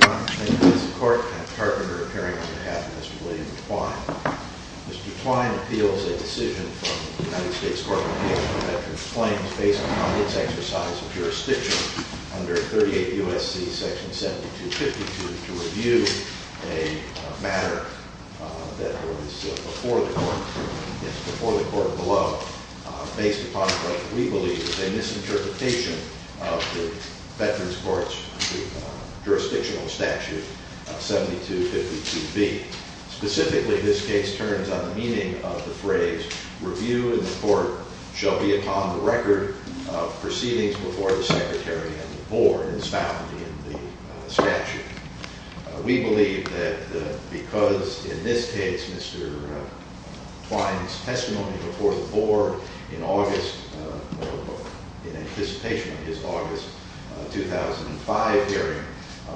Thank you, Mr. Court. I'm Tarpenter, appearing on behalf of Mr. William Twine. Mr. Twine appeals a decision from the United States Court of Appeals on Veterans Claims based upon its exercise of jurisdiction under 38 U.S.C. section 7252 to review a matter that was before the Court of the Law, based upon what we believe is a misinterpretation of the Veterans Courts jurisdictional statute 7252B. Specifically, this case turns on the meaning of the phrase, Review in the Court shall be upon the record of proceedings before the Secretary and the Board, as found in the statute. We believe that because, in this case, Mr. Twine's testimony before the Board in anticipation of his August 2005 hearing,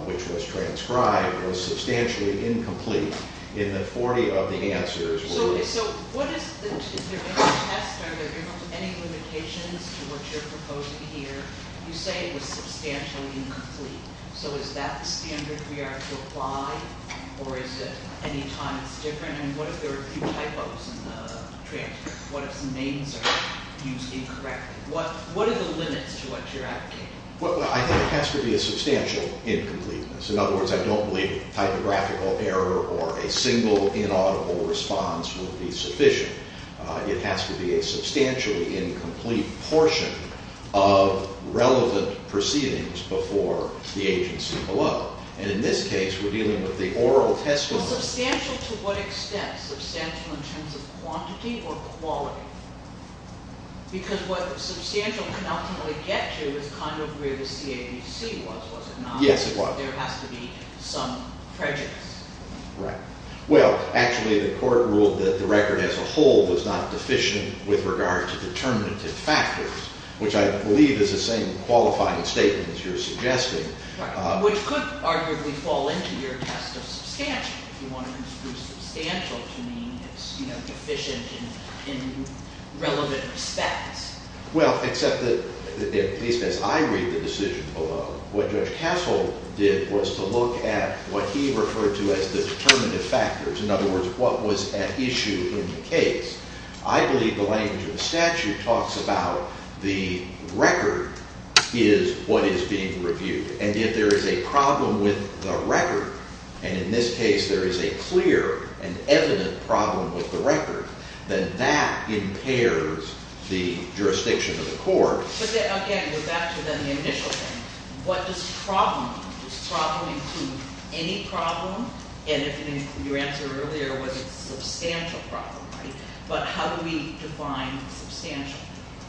which was transcribed, was substantially incomplete in that 40 of the answers were- Okay, so what is the, is there any test, are there any limitations to what you're proposing here? You say it was substantially incomplete. So is that the standard we are to apply, or is it any time it's different? And what if there are a few typos in the transcript? What if some names are used incorrectly? What are the limits to what you're advocating? Well, I think it has to be a substantial incompleteness. In other words, I don't believe typographical error or a single inaudible response will be sufficient. It has to be a substantially incomplete portion of relevant proceedings before the agency below. And in this case, we're dealing with the oral testimony- Quantity or quality? Because what substantial can ultimately get to is kind of where the CABC was, was it not? Yes, it was. There has to be some prejudice. Right. Well, actually, the Court ruled that the record as a whole was not deficient with regard to determinative factors, which I believe is the same qualifying statement as you're suggesting. Right. Which could arguably fall into your test of substantial, if you want to use the word substantial to mean it's deficient in relevant respects. Well, except that, at least as I read the decision below, what Judge Castle did was to look at what he referred to as the determinative factors. In other words, what was at issue in the case. I believe the language of the statute talks about the record is what is being reviewed. And if there is a problem with the record, and in this case there is a clear and evident problem with the record, then that impairs the jurisdiction of the court. But then, again, we're back to then the initial thing. What does problem mean? Does problem include any problem? And if your answer earlier was a substantial problem, right, but how do we define substantial?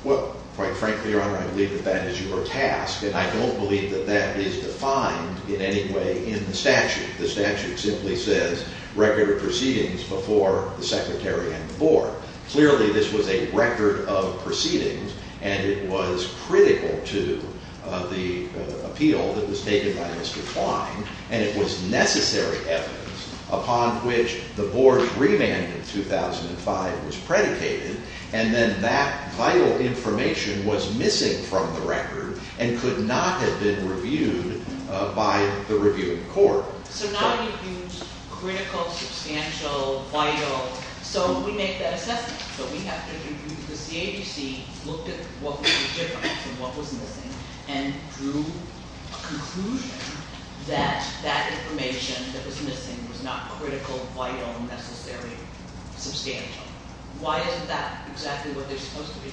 Well, quite frankly, Your Honor, I believe that that is your task, and I don't believe that that is defined in any way in the statute. The statute simply says record of proceedings before the secretary and the board. Clearly, this was a record of proceedings, and it was critical to the appeal that was taken by Mr. Klein, and it was necessary evidence upon which the board's remand in 2005 was predicated, and then that vital information was missing from the record and could not have been reviewed by the reviewing court. So now we've used critical, substantial, vital, so we make that assessment. So we have to conclude that the CABC looked at what was different and what was missing and drew a conclusion that that information that was missing was not critical, vital, necessary, substantial. Why isn't that exactly what they're supposed to be?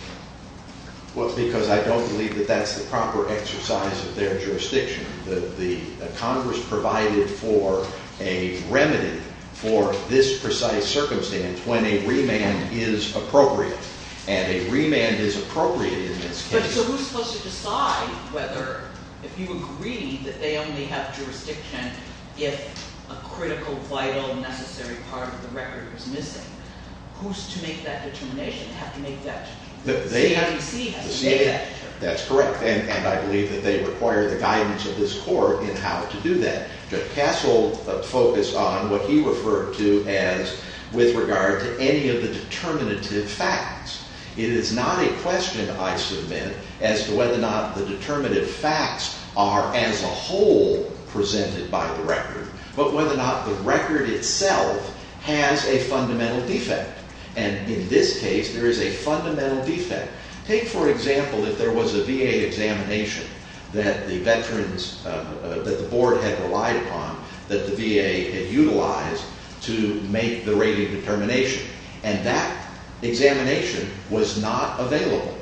Well, because I don't believe that that's the proper exercise of their jurisdiction. The Congress provided for a remedy for this precise circumstance when a remand is appropriate, and a remand is appropriate in this case. But so who's supposed to decide whether, if you agree that they only have jurisdiction if a critical, vital, necessary part of the record is missing? Who's to make that determination? They have to make that determination. The CABC has to make that determination. That's correct, and I believe that they require the guidance of this court in how to do that. Judge Castle focused on what he referred to as with regard to any of the determinative facts. It is not a question, I submit, as to whether or not the determinative facts are as a whole presented by the record, but whether or not the record itself has a fundamental defect. And in this case, there is a fundamental defect. Take, for example, if there was a VA examination that the board had relied upon, that the VA had utilized to make the rating determination, and that examination was not available.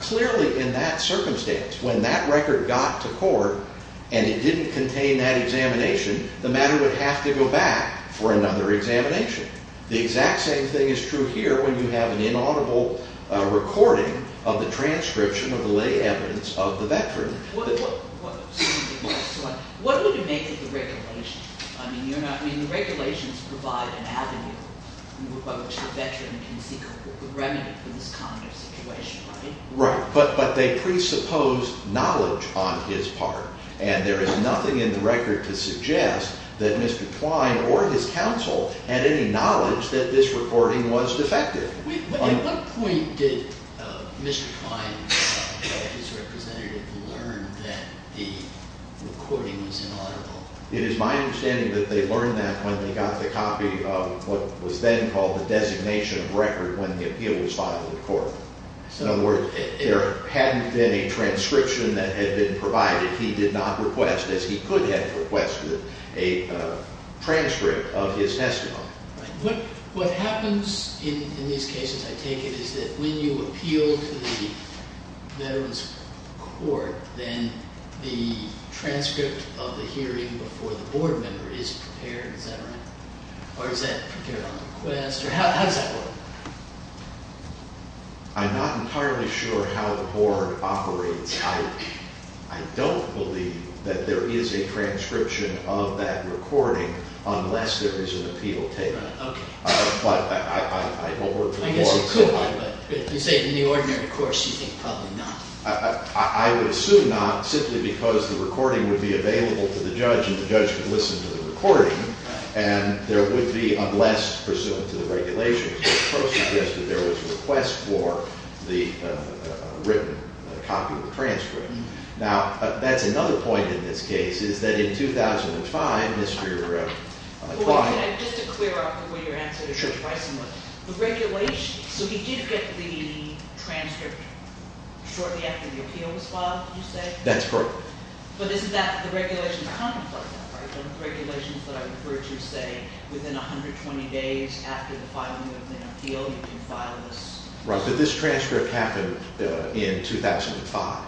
Clearly, in that circumstance, when that record got to court and it didn't contain that examination, the matter would have to go back for another examination. The exact same thing is true here when you have an inaudible recording of the transcription of the lay evidence of the veteran. What would it make of the regulations? I mean, the regulations provide an avenue by which the veteran can seek a remedy for this kind of situation, right? Right, but they presuppose knowledge on his part. And there is nothing in the record to suggest that Mr. Twine or his counsel had any knowledge that this recording was defective. At what point did Mr. Twine and his representative learn that the recording was inaudible? It is my understanding that they learned that when they got the copy of what was then called the designation of record when the appeal was filed in court. In other words, there hadn't been a transcription that had been provided. He did not request, as he could have requested, a transcript of his testimony. Right. What happens in these cases, I take it, is that when you appeal to the veteran's court, then the transcript of the hearing before the board member is prepared. Is that right? Or is that prepared on request? Or how does that work? I'm not entirely sure how the board operates. I don't believe that there is a transcription of that recording unless there is an appeal taken. Okay. But I don't work for the board. I guess you could, but you say in the ordinary course you think probably not. I would assume not simply because the recording would be available to the judge and the judge would listen to the recording. And there would be, unless pursuant to the regulations, there was a request for the written copy of the transcript. Now, that's another point in this case, is that in 2005, Mr. Twine Just to clear up before you answer this question, the regulations, so he did get the transcript shortly after the appeal was filed, you say? That's correct. But this is after the regulations contemplate that, right? One of the regulations that I referred to say within 120 days after the filing of the appeal, you can file this. Right. But this transcript happened in 2005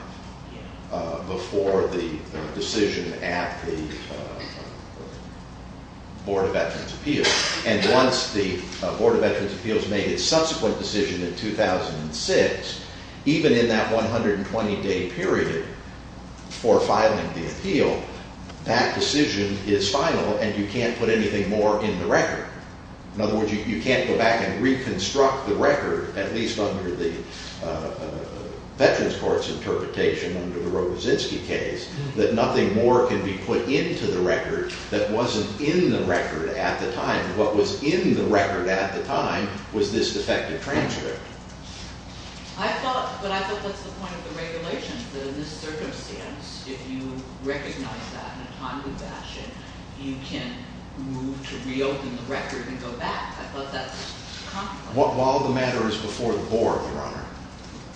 before the decision at the Board of Veterans Appeals. And once the Board of Veterans Appeals made its subsequent decision in 2006, even in that 120-day period for filing the appeal, that decision is final and you can't put anything more in the record. In other words, you can't go back and reconstruct the record, at least under the Veterans Court's interpretation under the Rogozinsky case, that nothing more can be put into the record that wasn't in the record at the time. What was in the record at the time was this defective transcript. I thought, but I thought that's the point of the regulations, that in this circumstance, if you recognize that in a timely fashion, you can move to reopen the record and go back. I thought that's- While the matter is before the Board, Your Honor,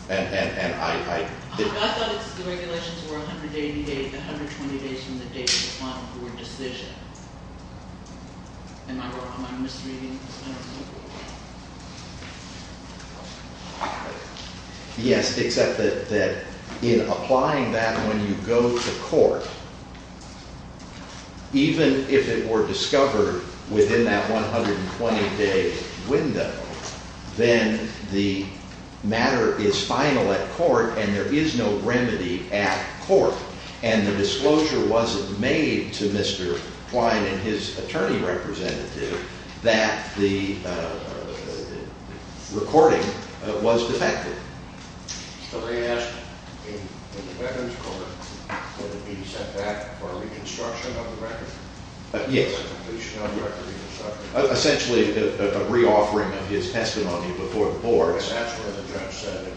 and I- I thought the regulations were 180 days, 120 days from the date of the final board decision. Am I wrong? Am I misreading this? I don't know. Yes, except that in applying that when you go to court, even if it were discovered within that 120-day window, then the matter is final at court and there is no remedy at court. And the disclosure wasn't made to Mr. Klein and his attorney representative that the recording was defective. So they asked in the Veterans Court that it be set back for reconstruction of the record? Yes. Reconstruction of the record. Essentially, a re-offering of his testimony before the Board. That's what the judge said.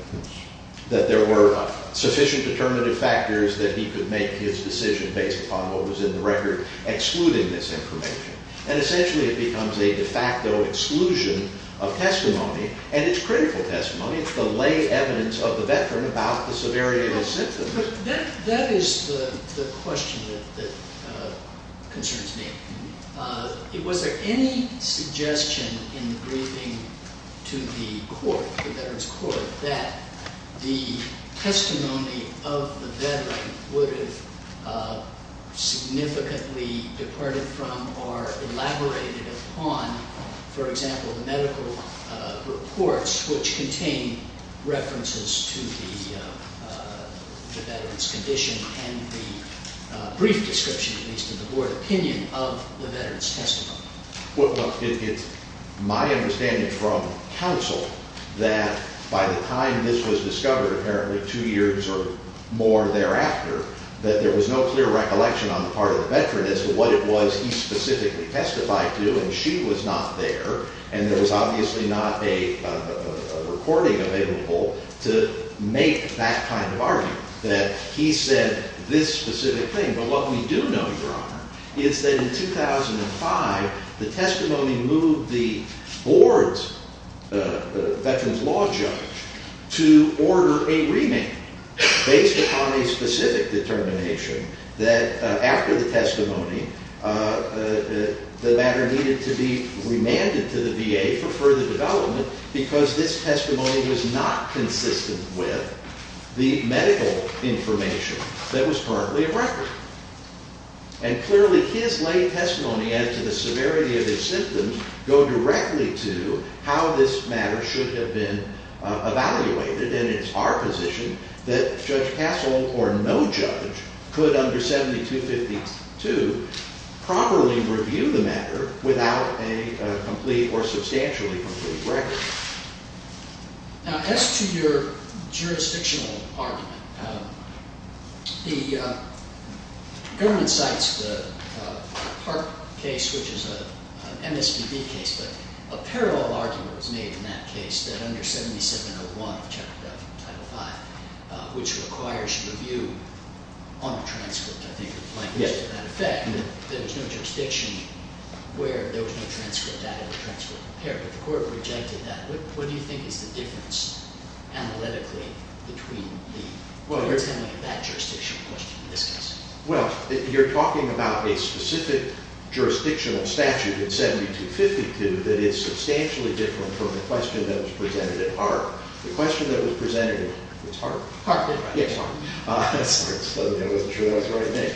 That there were sufficient determinative factors that he could make his decision based upon what was in the record, excluding this information. And essentially, it becomes a de facto exclusion of testimony, and it's critical testimony. It's the lay evidence of the veteran about the severity of his symptoms. That is the question that concerns me. Was there any suggestion in the briefing to the court, the Veterans Court, that the testimony of the veteran would have significantly departed from or elaborated upon, for example, the medical reports which contain references to the veteran's condition and the brief description, at least in the Board opinion, of the veteran's testimony? It's my understanding from counsel that by the time this was discovered, apparently two years or more thereafter, that there was no clear recollection on the part of the veteran as to what it was he specifically testified to. And she was not there. And there was obviously not a recording available to make that kind of argument, that he said this specific thing. Well, what we do know, Your Honor, is that in 2005, the testimony moved the board's veteran's law judge to order a remand based upon a specific determination that after the testimony, the matter needed to be remanded to the VA for further development because this testimony was not consistent with the medical information that was currently a record. And clearly, his lay testimony as to the severity of his symptoms go directly to how this matter should have been evaluated. And it's our position that Judge Kassel or no judge could, under 7252, properly review the matter without a complete or substantially complete record. Now, as to your jurisdictional argument, the government cites the Park case, which is an MSPB case. But a parallel argument was made in that case that under 7701 of Title V, which requires review on a transcript, I think, of language to that effect, that there's no jurisdiction where there was no transcript added or transcript prepared. But the court rejected that. What do you think is the difference analytically between the court's handling of that jurisdiction and the question in this case? Well, you're talking about a specific jurisdictional statute in 7252 that is substantially different from the question that was presented at Hart. The question that was presented at Hart? Hart. Yes, Hart. Sorry, I wasn't sure that was the right name.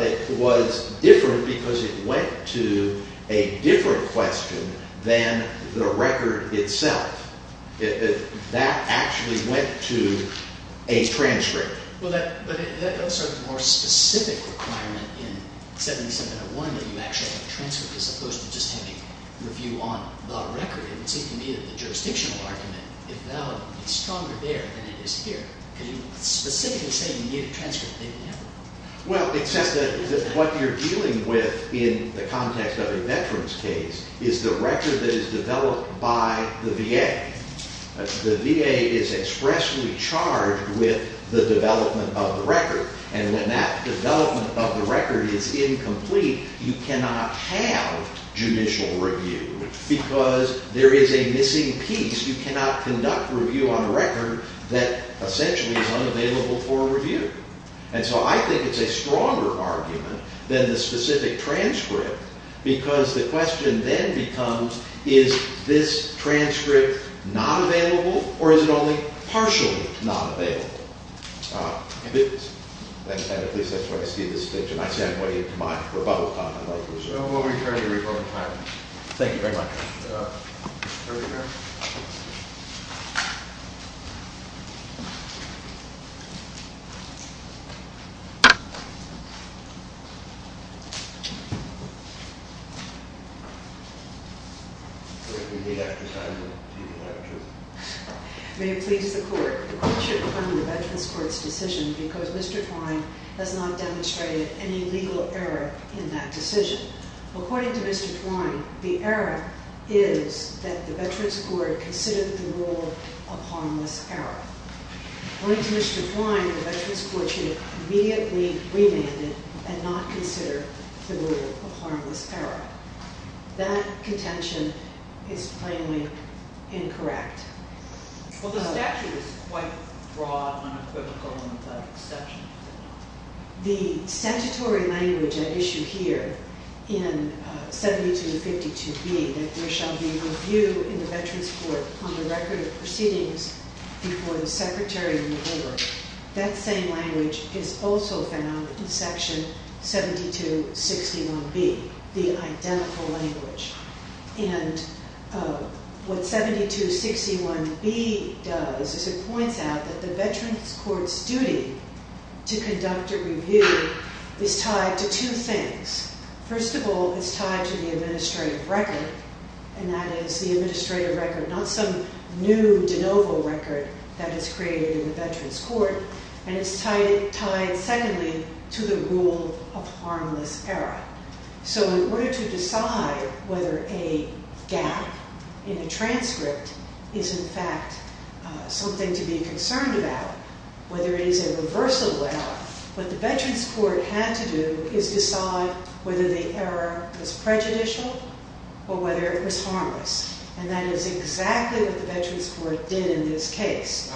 It was different because it went to a different question than the record itself. That actually went to a transcript. Well, that's a more specific requirement in 7701 that you actually have a transcript as opposed to just having a review on the record. It would seem to me that the jurisdictional argument, if valid, is stronger there than it is here. Because you specifically say you need a transcript. Well, it says that what you're dealing with in the context of a veteran's case is the record that is developed by the VA. The VA is expressly charged with the development of the record. And when that development of the record is incomplete, you cannot have judicial review because there is a missing piece. You cannot conduct review on a record that essentially is unavailable for review. And so I think it's a stronger argument than the specific transcript because the question then becomes, is this transcript not available or is it only partially not available? At least that's what I see at this stage. And I see I'm way into my rebuttal time. I'd like to reserve. We'll return to your rebuttal time. Thank you very much. Thank you very much. May it please the Court. The Court should confirm the Veterans Court's decision because Mr. Twine has not demonstrated any legal error in that decision. According to Mr. Twine, the error is that the Veterans Court considered the rule a harmless error. According to Mr. Twine, the Veterans Court should immediately remand it and not consider the rule a harmless error. That contention is plainly incorrect. Well, the statute is quite broad, unequivocal, and without exception. The statutory language at issue here in 7252B, that there shall be review in the Veterans Court on the record of proceedings before the Secretary and the Board, that same language is also found in Section 7261B, the identical language. And what 7261B does is it points out that the Veterans Court's duty to conduct a review is tied to two things. First of all, it's tied to the administrative record, and that is the administrative record, not some new de novo record that is created in the Veterans Court. And it's tied, secondly, to the rule of harmless error. So in order to decide whether a gap in the transcript is in fact something to be concerned about, whether it is a reversible error, what the Veterans Court had to do is decide whether the error was prejudicial or whether it was harmless. And that is exactly what the Veterans Court did in this case.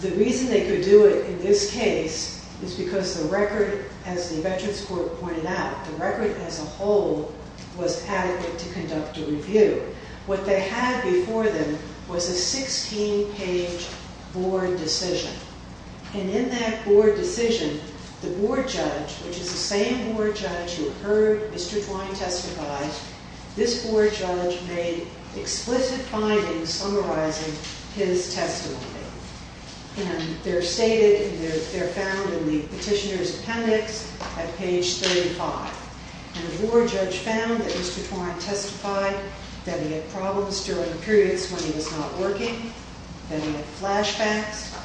The reason they could do it in this case is because the record, as the Veterans Court pointed out, the record as a whole was adequate to conduct a review. What they had before them was a 16-page board decision. And in that board decision, the board judge, which is the same board judge who heard Mr. Twine testify, this board judge made explicit findings summarizing his testimony. And they're stated and they're found in the petitioner's appendix at page 35. And the board judge found that Mr. Twine testified that he had problems during periods when he was not working, that he had flashbacks,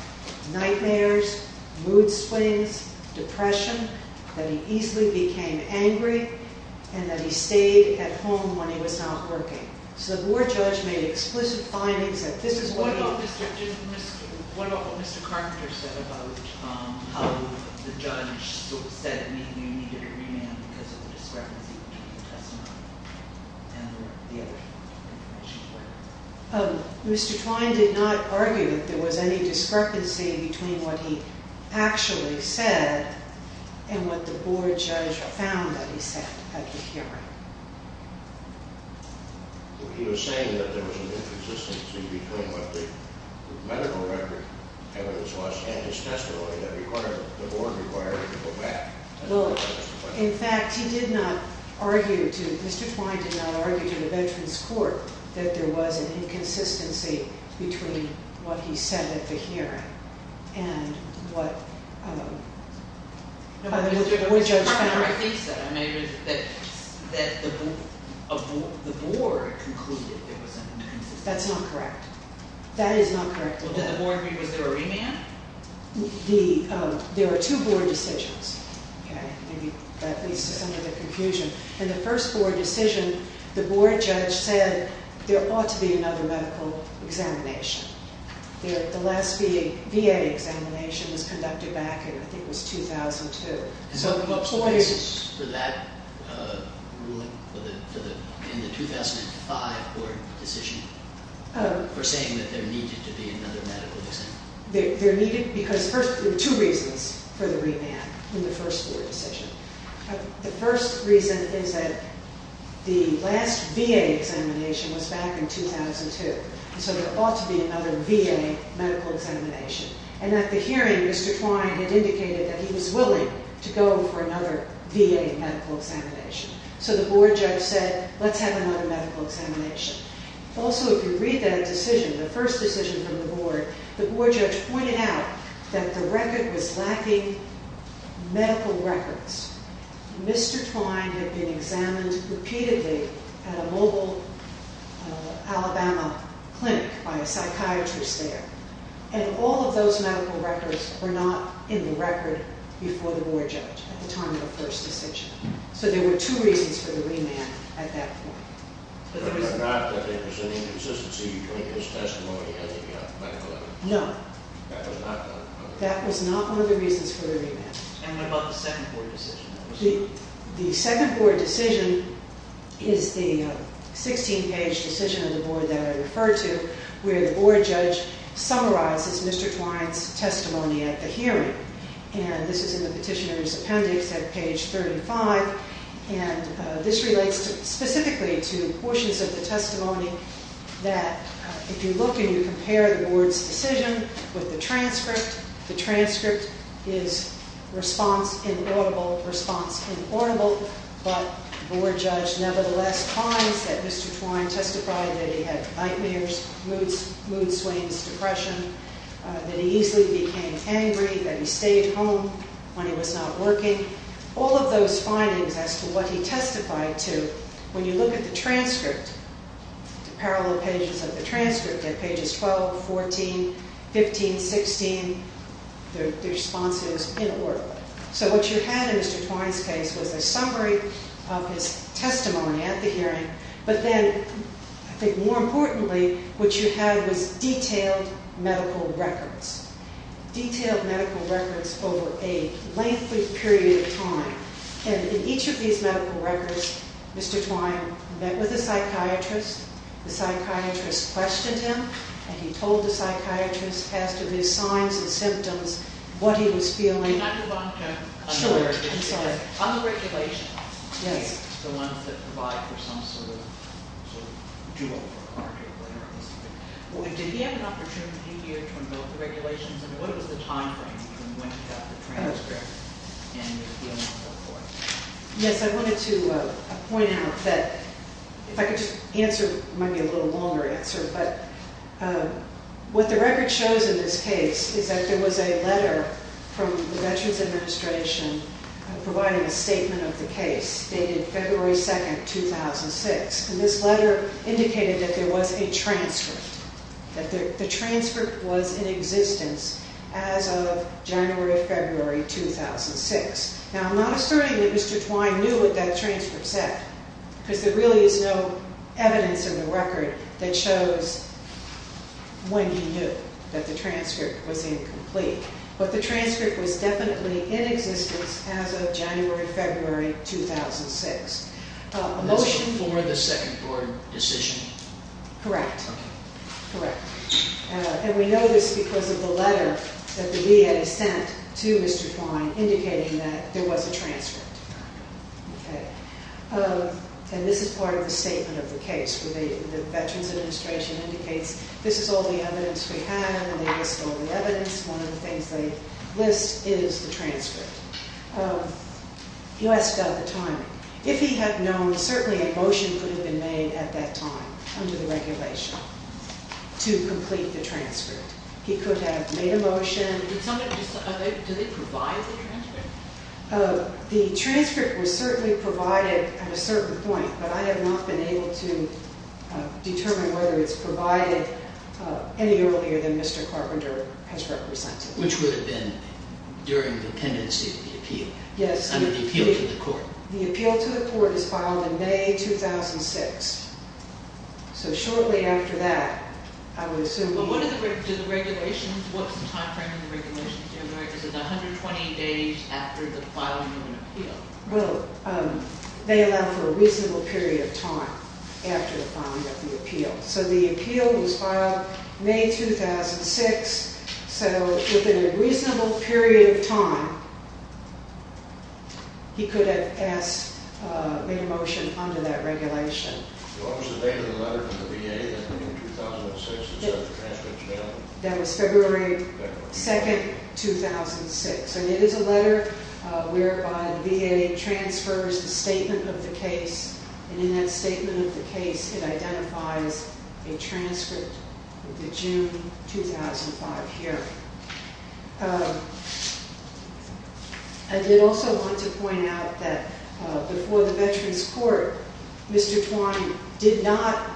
nightmares, mood swings, depression, that he easily became angry, and that he stayed at home when he was not working. So the board judge made explicit findings that this is what... Mr. Twine did not argue that there was any discrepancy between what he actually said and what the board judge found that he said at the hearing. He was saying that there was an inconsistency between what the medical record evidence was and his testimony that the board required to go back. In fact, he did not argue, Mr. Twine did not argue to the Veterans Court that there was an inconsistency between what he said at the hearing and what the board judge found. The board concluded there was an inconsistency. That's not correct. That is not correct at all. Was there a remand? There were two board decisions. That leads to some of the confusion. In the first board decision, the board judge said there ought to be another medical examination. The last VA examination was conducted back in, I think, it was 2002. Was there a basis for that ruling in the 2005 board decision for saying that there needed to be another medical examination? There needed... because first, there were two reasons for the remand in the first board decision. The first reason is that the last VA examination was back in 2002. So there ought to be another VA medical examination. And at the hearing, Mr. Twine had indicated that he was willing to go for another VA medical examination. So the board judge said, let's have another medical examination. Also, if you read that decision, the first decision from the board, the board judge pointed out that the record was lacking medical records. Mr. Twine had been examined repeatedly at a mobile Alabama clinic by a psychiatrist there. And all of those medical records were not in the record before the board judge at the time of the first decision. So there were two reasons for the remand at that point. But it was not that there was any inconsistency between his testimony and the medical evidence? No. That was not the... That was not one of the reasons for the remand. And what about the second board decision? The second board decision is the 16-page decision of the board that I referred to where the board judge summarizes Mr. Twine's testimony at the hearing. And this is in the petitioner's appendix at page 35. And this relates specifically to portions of the testimony that if you look and you compare the board's decision with the transcript, the transcript is response inaudible, response inaudible. But the board judge nevertheless finds that Mr. Twine testified that he had nightmares, mood swings, depression, that he easily became angry, that he stayed home when he was not working. All of those findings as to what he testified to, when you look at the transcript, the parallel pages of the transcript at pages 12, 14, 15, 16, their response is inaudible. So what you had in Mr. Twine's case was a summary of his testimony at the hearing. But then I think more importantly, what you had was detailed medical records, detailed medical records over a lengthy period of time. And in each of these medical records, Mr. Twine met with a psychiatrist. The psychiatrist questioned him, and he told the psychiatrist as to his signs and symptoms, what he was feeling. Can I move on to unregulated? Sure, I'm sorry. Unregulated. Yes. The ones that provide for some sort of dual-argument. Did he have an opportunity here to invoke the regulations? And what was the time frame between when he got the transcript and if he went forth for it? Yes, I wanted to point out that if I could just answer, it might be a little longer answer, but what the record shows in this case is that there was a letter from the Veterans Administration providing a statement of the case dated February 2, 2006. And this letter indicated that there was a transcript, that the transcript was in existence as of January, February 2006. Now, I'm not asserting that Mr. Twine knew what that transcript said, because there really is no evidence in the record that shows when he knew that the transcript was incomplete. But the transcript was definitely in existence as of January, February 2006. A motion for the second court decision. Correct. Okay. Correct. And we know this because of the letter that the VA sent to Mr. Twine indicating that there was a transcript. Okay. And this is part of the statement of the case where the Veterans Administration indicates this is all the evidence we have, and they list all the evidence. One of the things they list is the transcript. You asked about the timing. If he had known, certainly a motion could have been made at that time under the regulation to complete the transcript. He could have made a motion. Did someone decide? Did they provide the transcript? The transcript was certainly provided at a certain point, but I have not been able to determine whether it's provided any earlier than Mr. Carpenter has represented. Which would have been during the pendency of the appeal. Yes. Under the appeal to the court. The appeal to the court is filed in May 2006. So shortly after that, I would assume he... But what is the regulation? What's the time frame in the regulations? Is it 120 days after the filing of an appeal? Well, they allow for a reasonable period of time after the filing of the appeal. So the appeal was filed May 2006. So within a reasonable period of time, he could have asked to make a motion under that regulation. What was the date of the letter from the VA in 2006? That was February 2, 2006. And it is a letter whereby the VA transfers the statement of the case. And in that statement of the case, it identifies a transcript of the June 2005 hearing. I did also want to point out that before the Veterans Court, Mr. Twine did not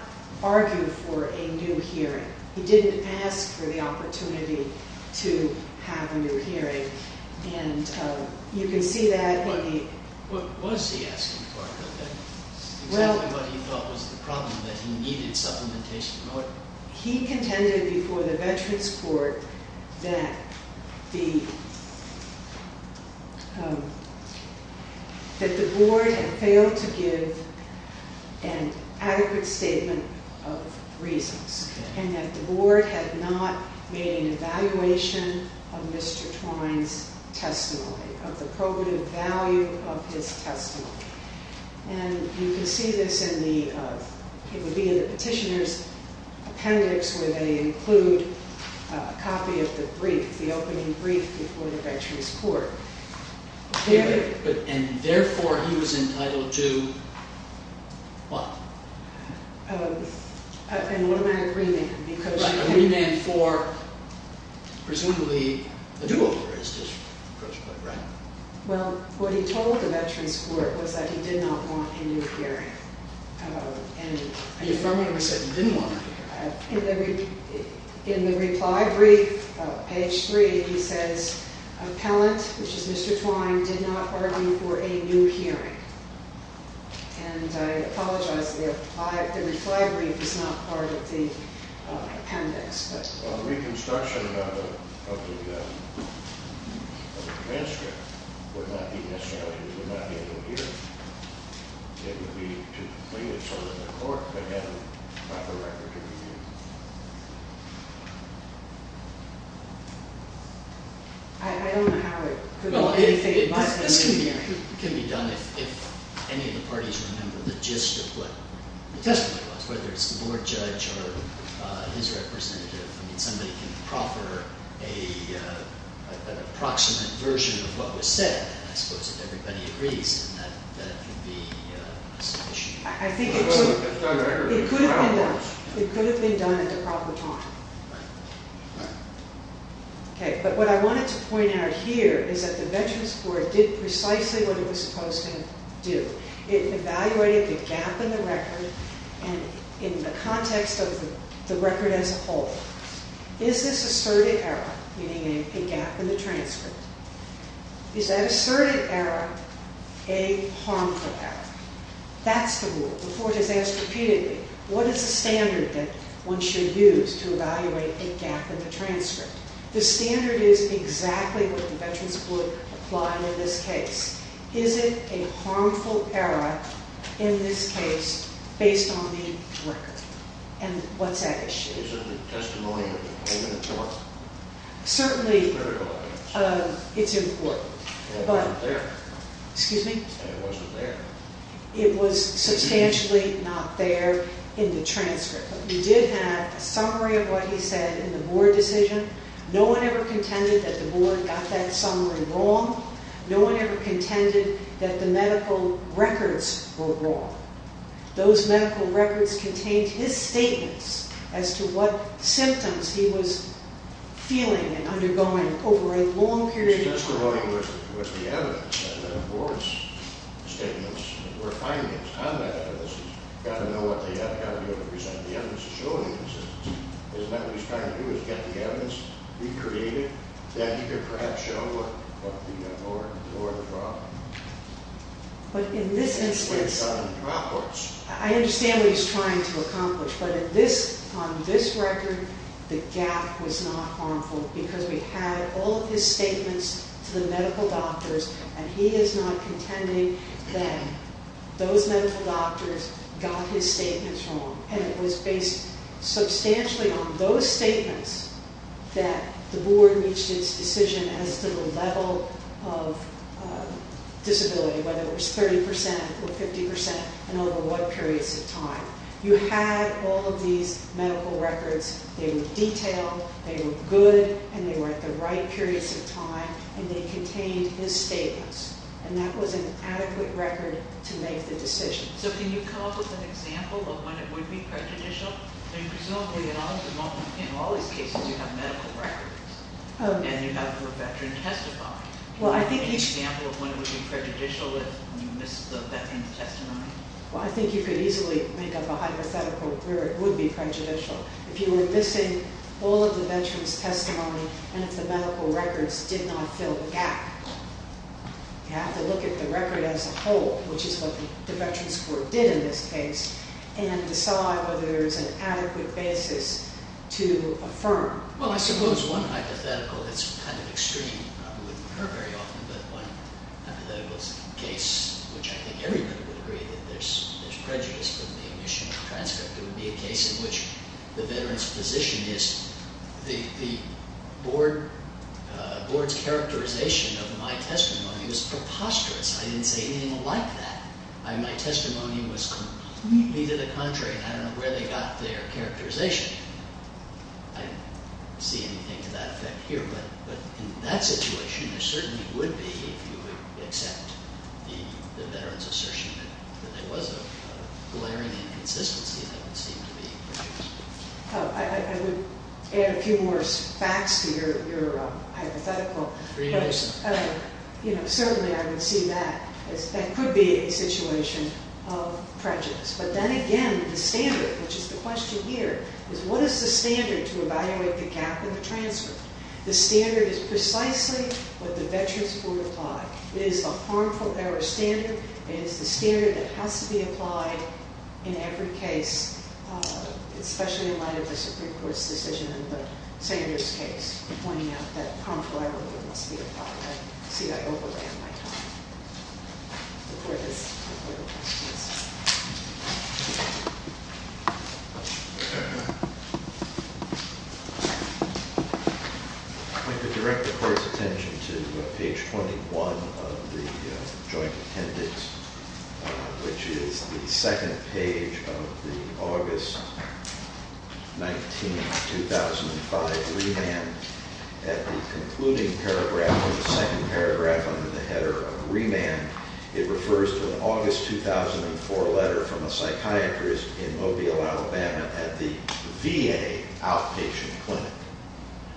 argue for a new hearing. He didn't ask for the opportunity to have a new hearing. And you can see that in the... Exactly what he thought was the problem, that he needed supplementation. He contended before the Veterans Court that the board had failed to give an adequate statement of reasons. And that the board had not made an evaluation of Mr. Twine's testimony, of the probative value of his testimony. And you can see this in the... It would be in the petitioner's appendix where they include a copy of the brief, the opening brief before the Veterans Court. And therefore, he was entitled to what? An automatic remand. A remand for, presumably, a due authorization. Well, what he told the Veterans Court was that he did not want a new hearing. And you firmly said he didn't want a new hearing. In the reply brief, page 3, he says, Appellant, which is Mr. Twine, did not argue for a new hearing. And I apologize, the reply brief is not part of the appendix. Well, the reconstruction of the transcript would not be necessary. It would not be a new hearing. It would be to complete it so that the court could have a proper record to review. I don't know how it could be... This can be done if any of the parties remember the gist of what the testimony was. Whether it's the board judge or his representative. I mean, somebody can proffer an approximate version of what was said. I suppose if everybody agrees, that would be sufficient. It could have been done at the proper time. But what I wanted to point out here is that the Veterans Court did precisely what it was supposed to do. It evaluated the gap in the record and in the context of the record as a whole. Is this asserted error, meaning a gap in the transcript, is that asserted error a harmful error? That's the rule. The court has asked repeatedly, what is the standard that one should use to evaluate a gap in the transcript? The standard is exactly what the Veterans Court applied in this case. Is it a harmful error in this case, based on the record? And what's that issue? Is it the testimony of the open court? Certainly, it's important. But... It wasn't there. Excuse me? It wasn't there. It was substantially not there in the transcript. But we did have a summary of what he said in the board decision. No one ever contended that the board got that summary wrong. No one ever contended that the medical records were wrong. Those medical records contained his statements as to what symptoms he was feeling and undergoing over a long period of time. He was just going with the evidence. The board's statements were findings on that evidence. He's got to know what they have. He's got to be able to present the evidence and show the evidence. Isn't that what he's trying to do, is get the evidence, recreate it, that he could perhaps show what the board thought? But in this instance, I understand what he's trying to accomplish. But on this record, the gap was not harmful because we had all of his statements to the medical doctors, and he is not contending that those medical doctors got his statements wrong. And it was based substantially on those statements that the board reached its decision as to the level of disability, whether it was 30 percent or 50 percent and over what periods of time. You had all of these medical records. They were detailed, they were good, and they were at the right periods of time, and they contained his statements. And that was an adequate record to make the decision. So can you come up with an example of when it would be prejudicial? I mean, presumably in all these cases you have medical records and you have your veteran testify. Can you give an example of when it would be prejudicial if you missed the veteran's testimony? Well, I think you could easily make up a hypothetical where it would be prejudicial. If you were missing all of the veteran's testimony and if the medical records did not fill the gap, you have to look at the record as a whole, which is what the Veterans Court did in this case, and decide whether there is an adequate basis to affirm. Well, I suppose one hypothetical that's kind of extreme, probably wouldn't occur very often, but one hypothetical case which I think everyone would agree that there's prejudice from the initial transcript. It would be a case in which the veteran's position is the board's characterization of my testimony was preposterous. I didn't say anything like that. My testimony was completely to the contrary. I don't know where they got their characterization. I don't see anything to that effect here, but in that situation there certainly would be if you would accept the veteran's assertion that there was a glaring inconsistency that would seem to be prejudicial. I would add a few more facts to your hypothetical. Certainly I would see that. That could be a situation of prejudice. But then again, the standard, which is the question here, is what is the standard to evaluate the gap in the transcript? The standard is precisely what the Veterans Court applied. It is a harmful error standard. It is the standard that has to be applied in every case, especially in light of the Supreme Court's decision in the Sanders case, pointing out that harmful error must be applied. I see I overran my time. Before this, I have a couple of questions. I'd like to direct the Court's attention to page 21 of the joint appendix, which is the second page of the August 19, 2005, remand. At the concluding paragraph of the second paragraph under the header of remand, it refers to an August 2004 letter from a psychiatrist in Mobile, Alabama, at the VA outpatient clinic.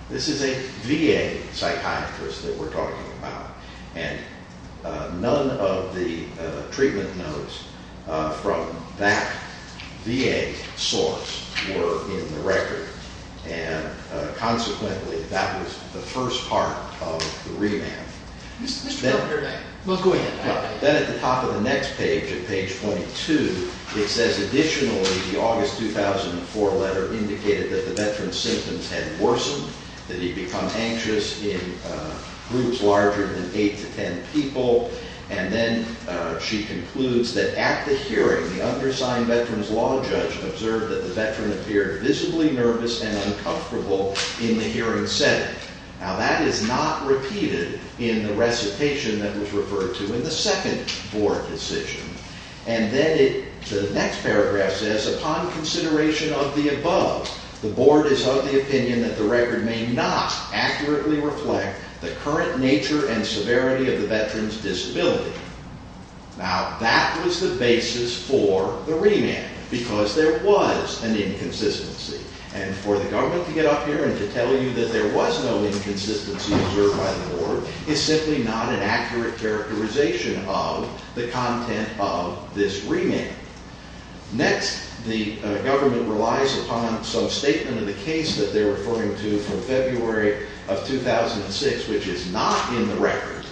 This is a VA psychiatrist that we're talking about, and none of the treatment notes from that VA source were in the record. Consequently, that was the first part of the remand. Mr. Proctor, go ahead. Then at the top of the next page, at page 22, it says, additionally, the August 2004 letter indicated that the veteran's symptoms had worsened, that he'd become anxious in groups larger than 8 to 10 people. And then she concludes that at the hearing, the undersigned veteran's law judge observed that the veteran appeared visibly nervous and uncomfortable in the hearing setting. Now, that is not repeated in the recitation that was referred to in the second board decision. And then the next paragraph says, upon consideration of the above, the board is of the opinion that the record may not accurately reflect the current nature and severity of the veteran's disability. Now, that was the basis for the remand, because there was an inconsistency. And for the government to get up here and to tell you that there was no inconsistency observed by the board is simply not an accurate characterization of the content of this remand. Next, the government relies upon some statement of the case that they're referring to from February of 2006, which is not in the record.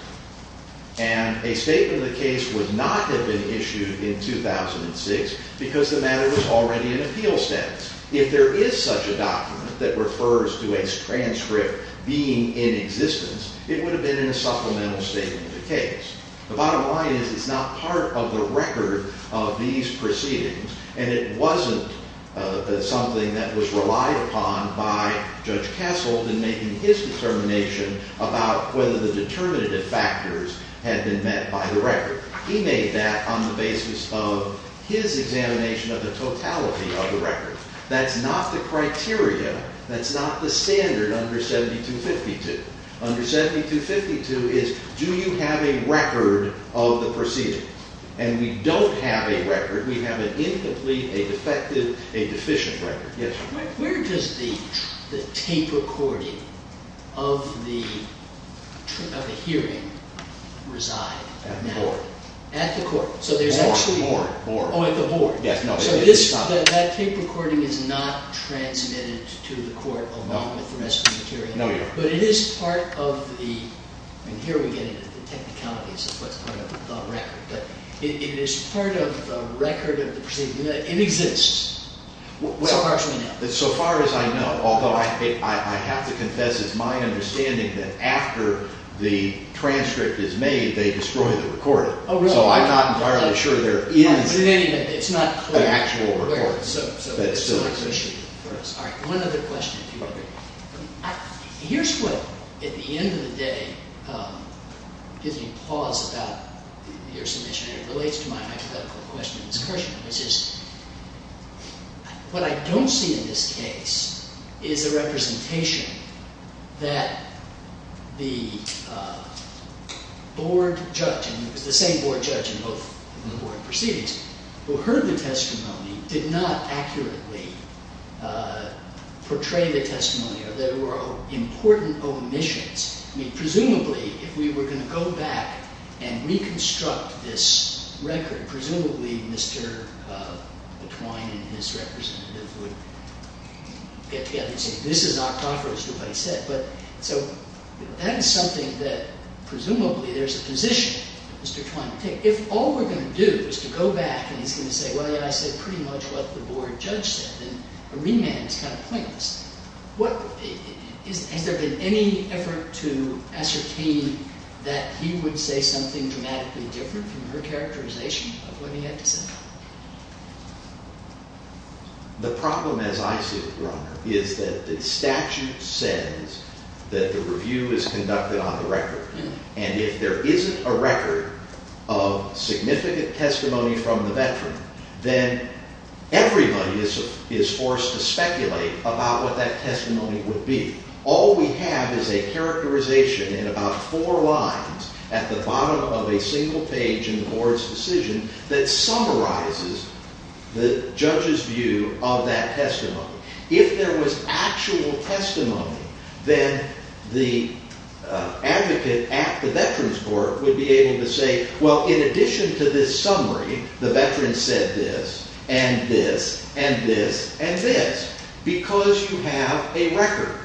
And a statement of the case would not have been issued in 2006, because the matter was already in appeal status. If there is such a document that refers to a transcript being in existence, it would have been in a supplemental statement of the case. The bottom line is it's not part of the record of these proceedings, and it wasn't something that was relied upon by Judge Kessel in making his determination about whether the determinative factors had been met by the record. He made that on the basis of his examination of the totality of the record. That's not the criteria. That's not the standard under 7252. Under 7252 is, do you have a record of the proceedings? And we don't have a record. We have an incomplete, a defective, a deficient record. Yes, sir. Where does the tape recording of the hearing reside? At the board. At the court. So there's actually... Board, board, board. Oh, at the board. So that tape recording is not transmitted to the court along with the rest of the material. No, we don't. But it is part of the, and here we get into the technicalities of what's part of the record, but it is part of the record of the proceedings. It exists, so far as we know. So far as I know, although I have to confess it's my understanding that after the transcript is made, they destroy the recording. Oh, really? So I'm not entirely sure there is an actual recording that still exists. All right, one other question, if you are there. Here's what, at the end of the day, gives me pause about your submission, and it relates to my hypothetical question and discussion, which is what I don't see in this case is a representation that the board judge, and it was the same board judge in both of the board proceedings, who heard the testimony, did not accurately portray the testimony, or there were important omissions. I mean, presumably, if we were going to go back and reconstruct this record, presumably Mr. Twine and his representative would get together and say, this is octophorous to what he said. So that is something that presumably there is a position Mr. Twine would take. If all we're going to do is to go back and he's going to say, well, I said pretty much what the board judge said, then a remand is kind of pointless. Has there been any effort to ascertain that he would say something dramatically different from your characterization of what he had to say? The problem, as I see it, Your Honor, is that the statute says that the review is conducted on the record. And if there isn't a record of significant testimony from the veteran, then everybody is forced to speculate about what that testimony would be. All we have is a characterization in about four lines at the bottom of a single page in the board's decision that summarizes the judge's view of that testimony. If there was actual testimony, then the advocate at the veteran's court would be able to say, well, in addition to this summary, the veteran said this, and this, and this, and this, because you have a record.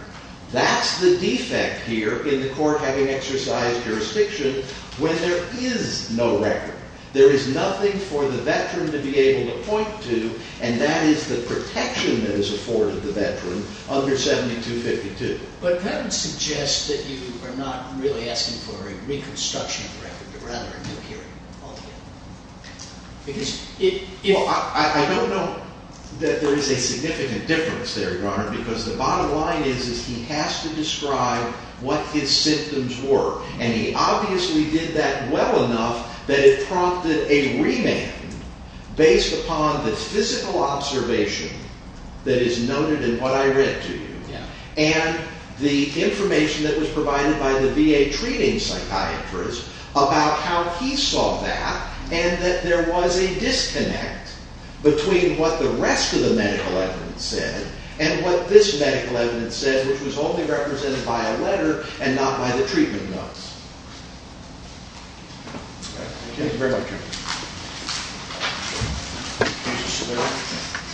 That's the defect here in the court having exercised jurisdiction when there is no record. There is nothing for the veteran to be able to point to, and that is the protection that is afforded the veteran under 7252. But that would suggest that you are not really asking for a reconstruction of the record, but rather a new hearing altogether. I don't know that there is a significant difference there, Your Honor, because the bottom line is he has to describe what his symptoms were. And he obviously did that well enough that it prompted a remand based upon the physical observation that is noted in what I read to you and the information that was provided by the VA treating psychiatrist about how he saw that and that there was a disconnect between what the rest of the medical evidence said and what this medical evidence said, which was only represented by a letter and not by the treatment notes. Thank you very much, Your Honor. Thank you.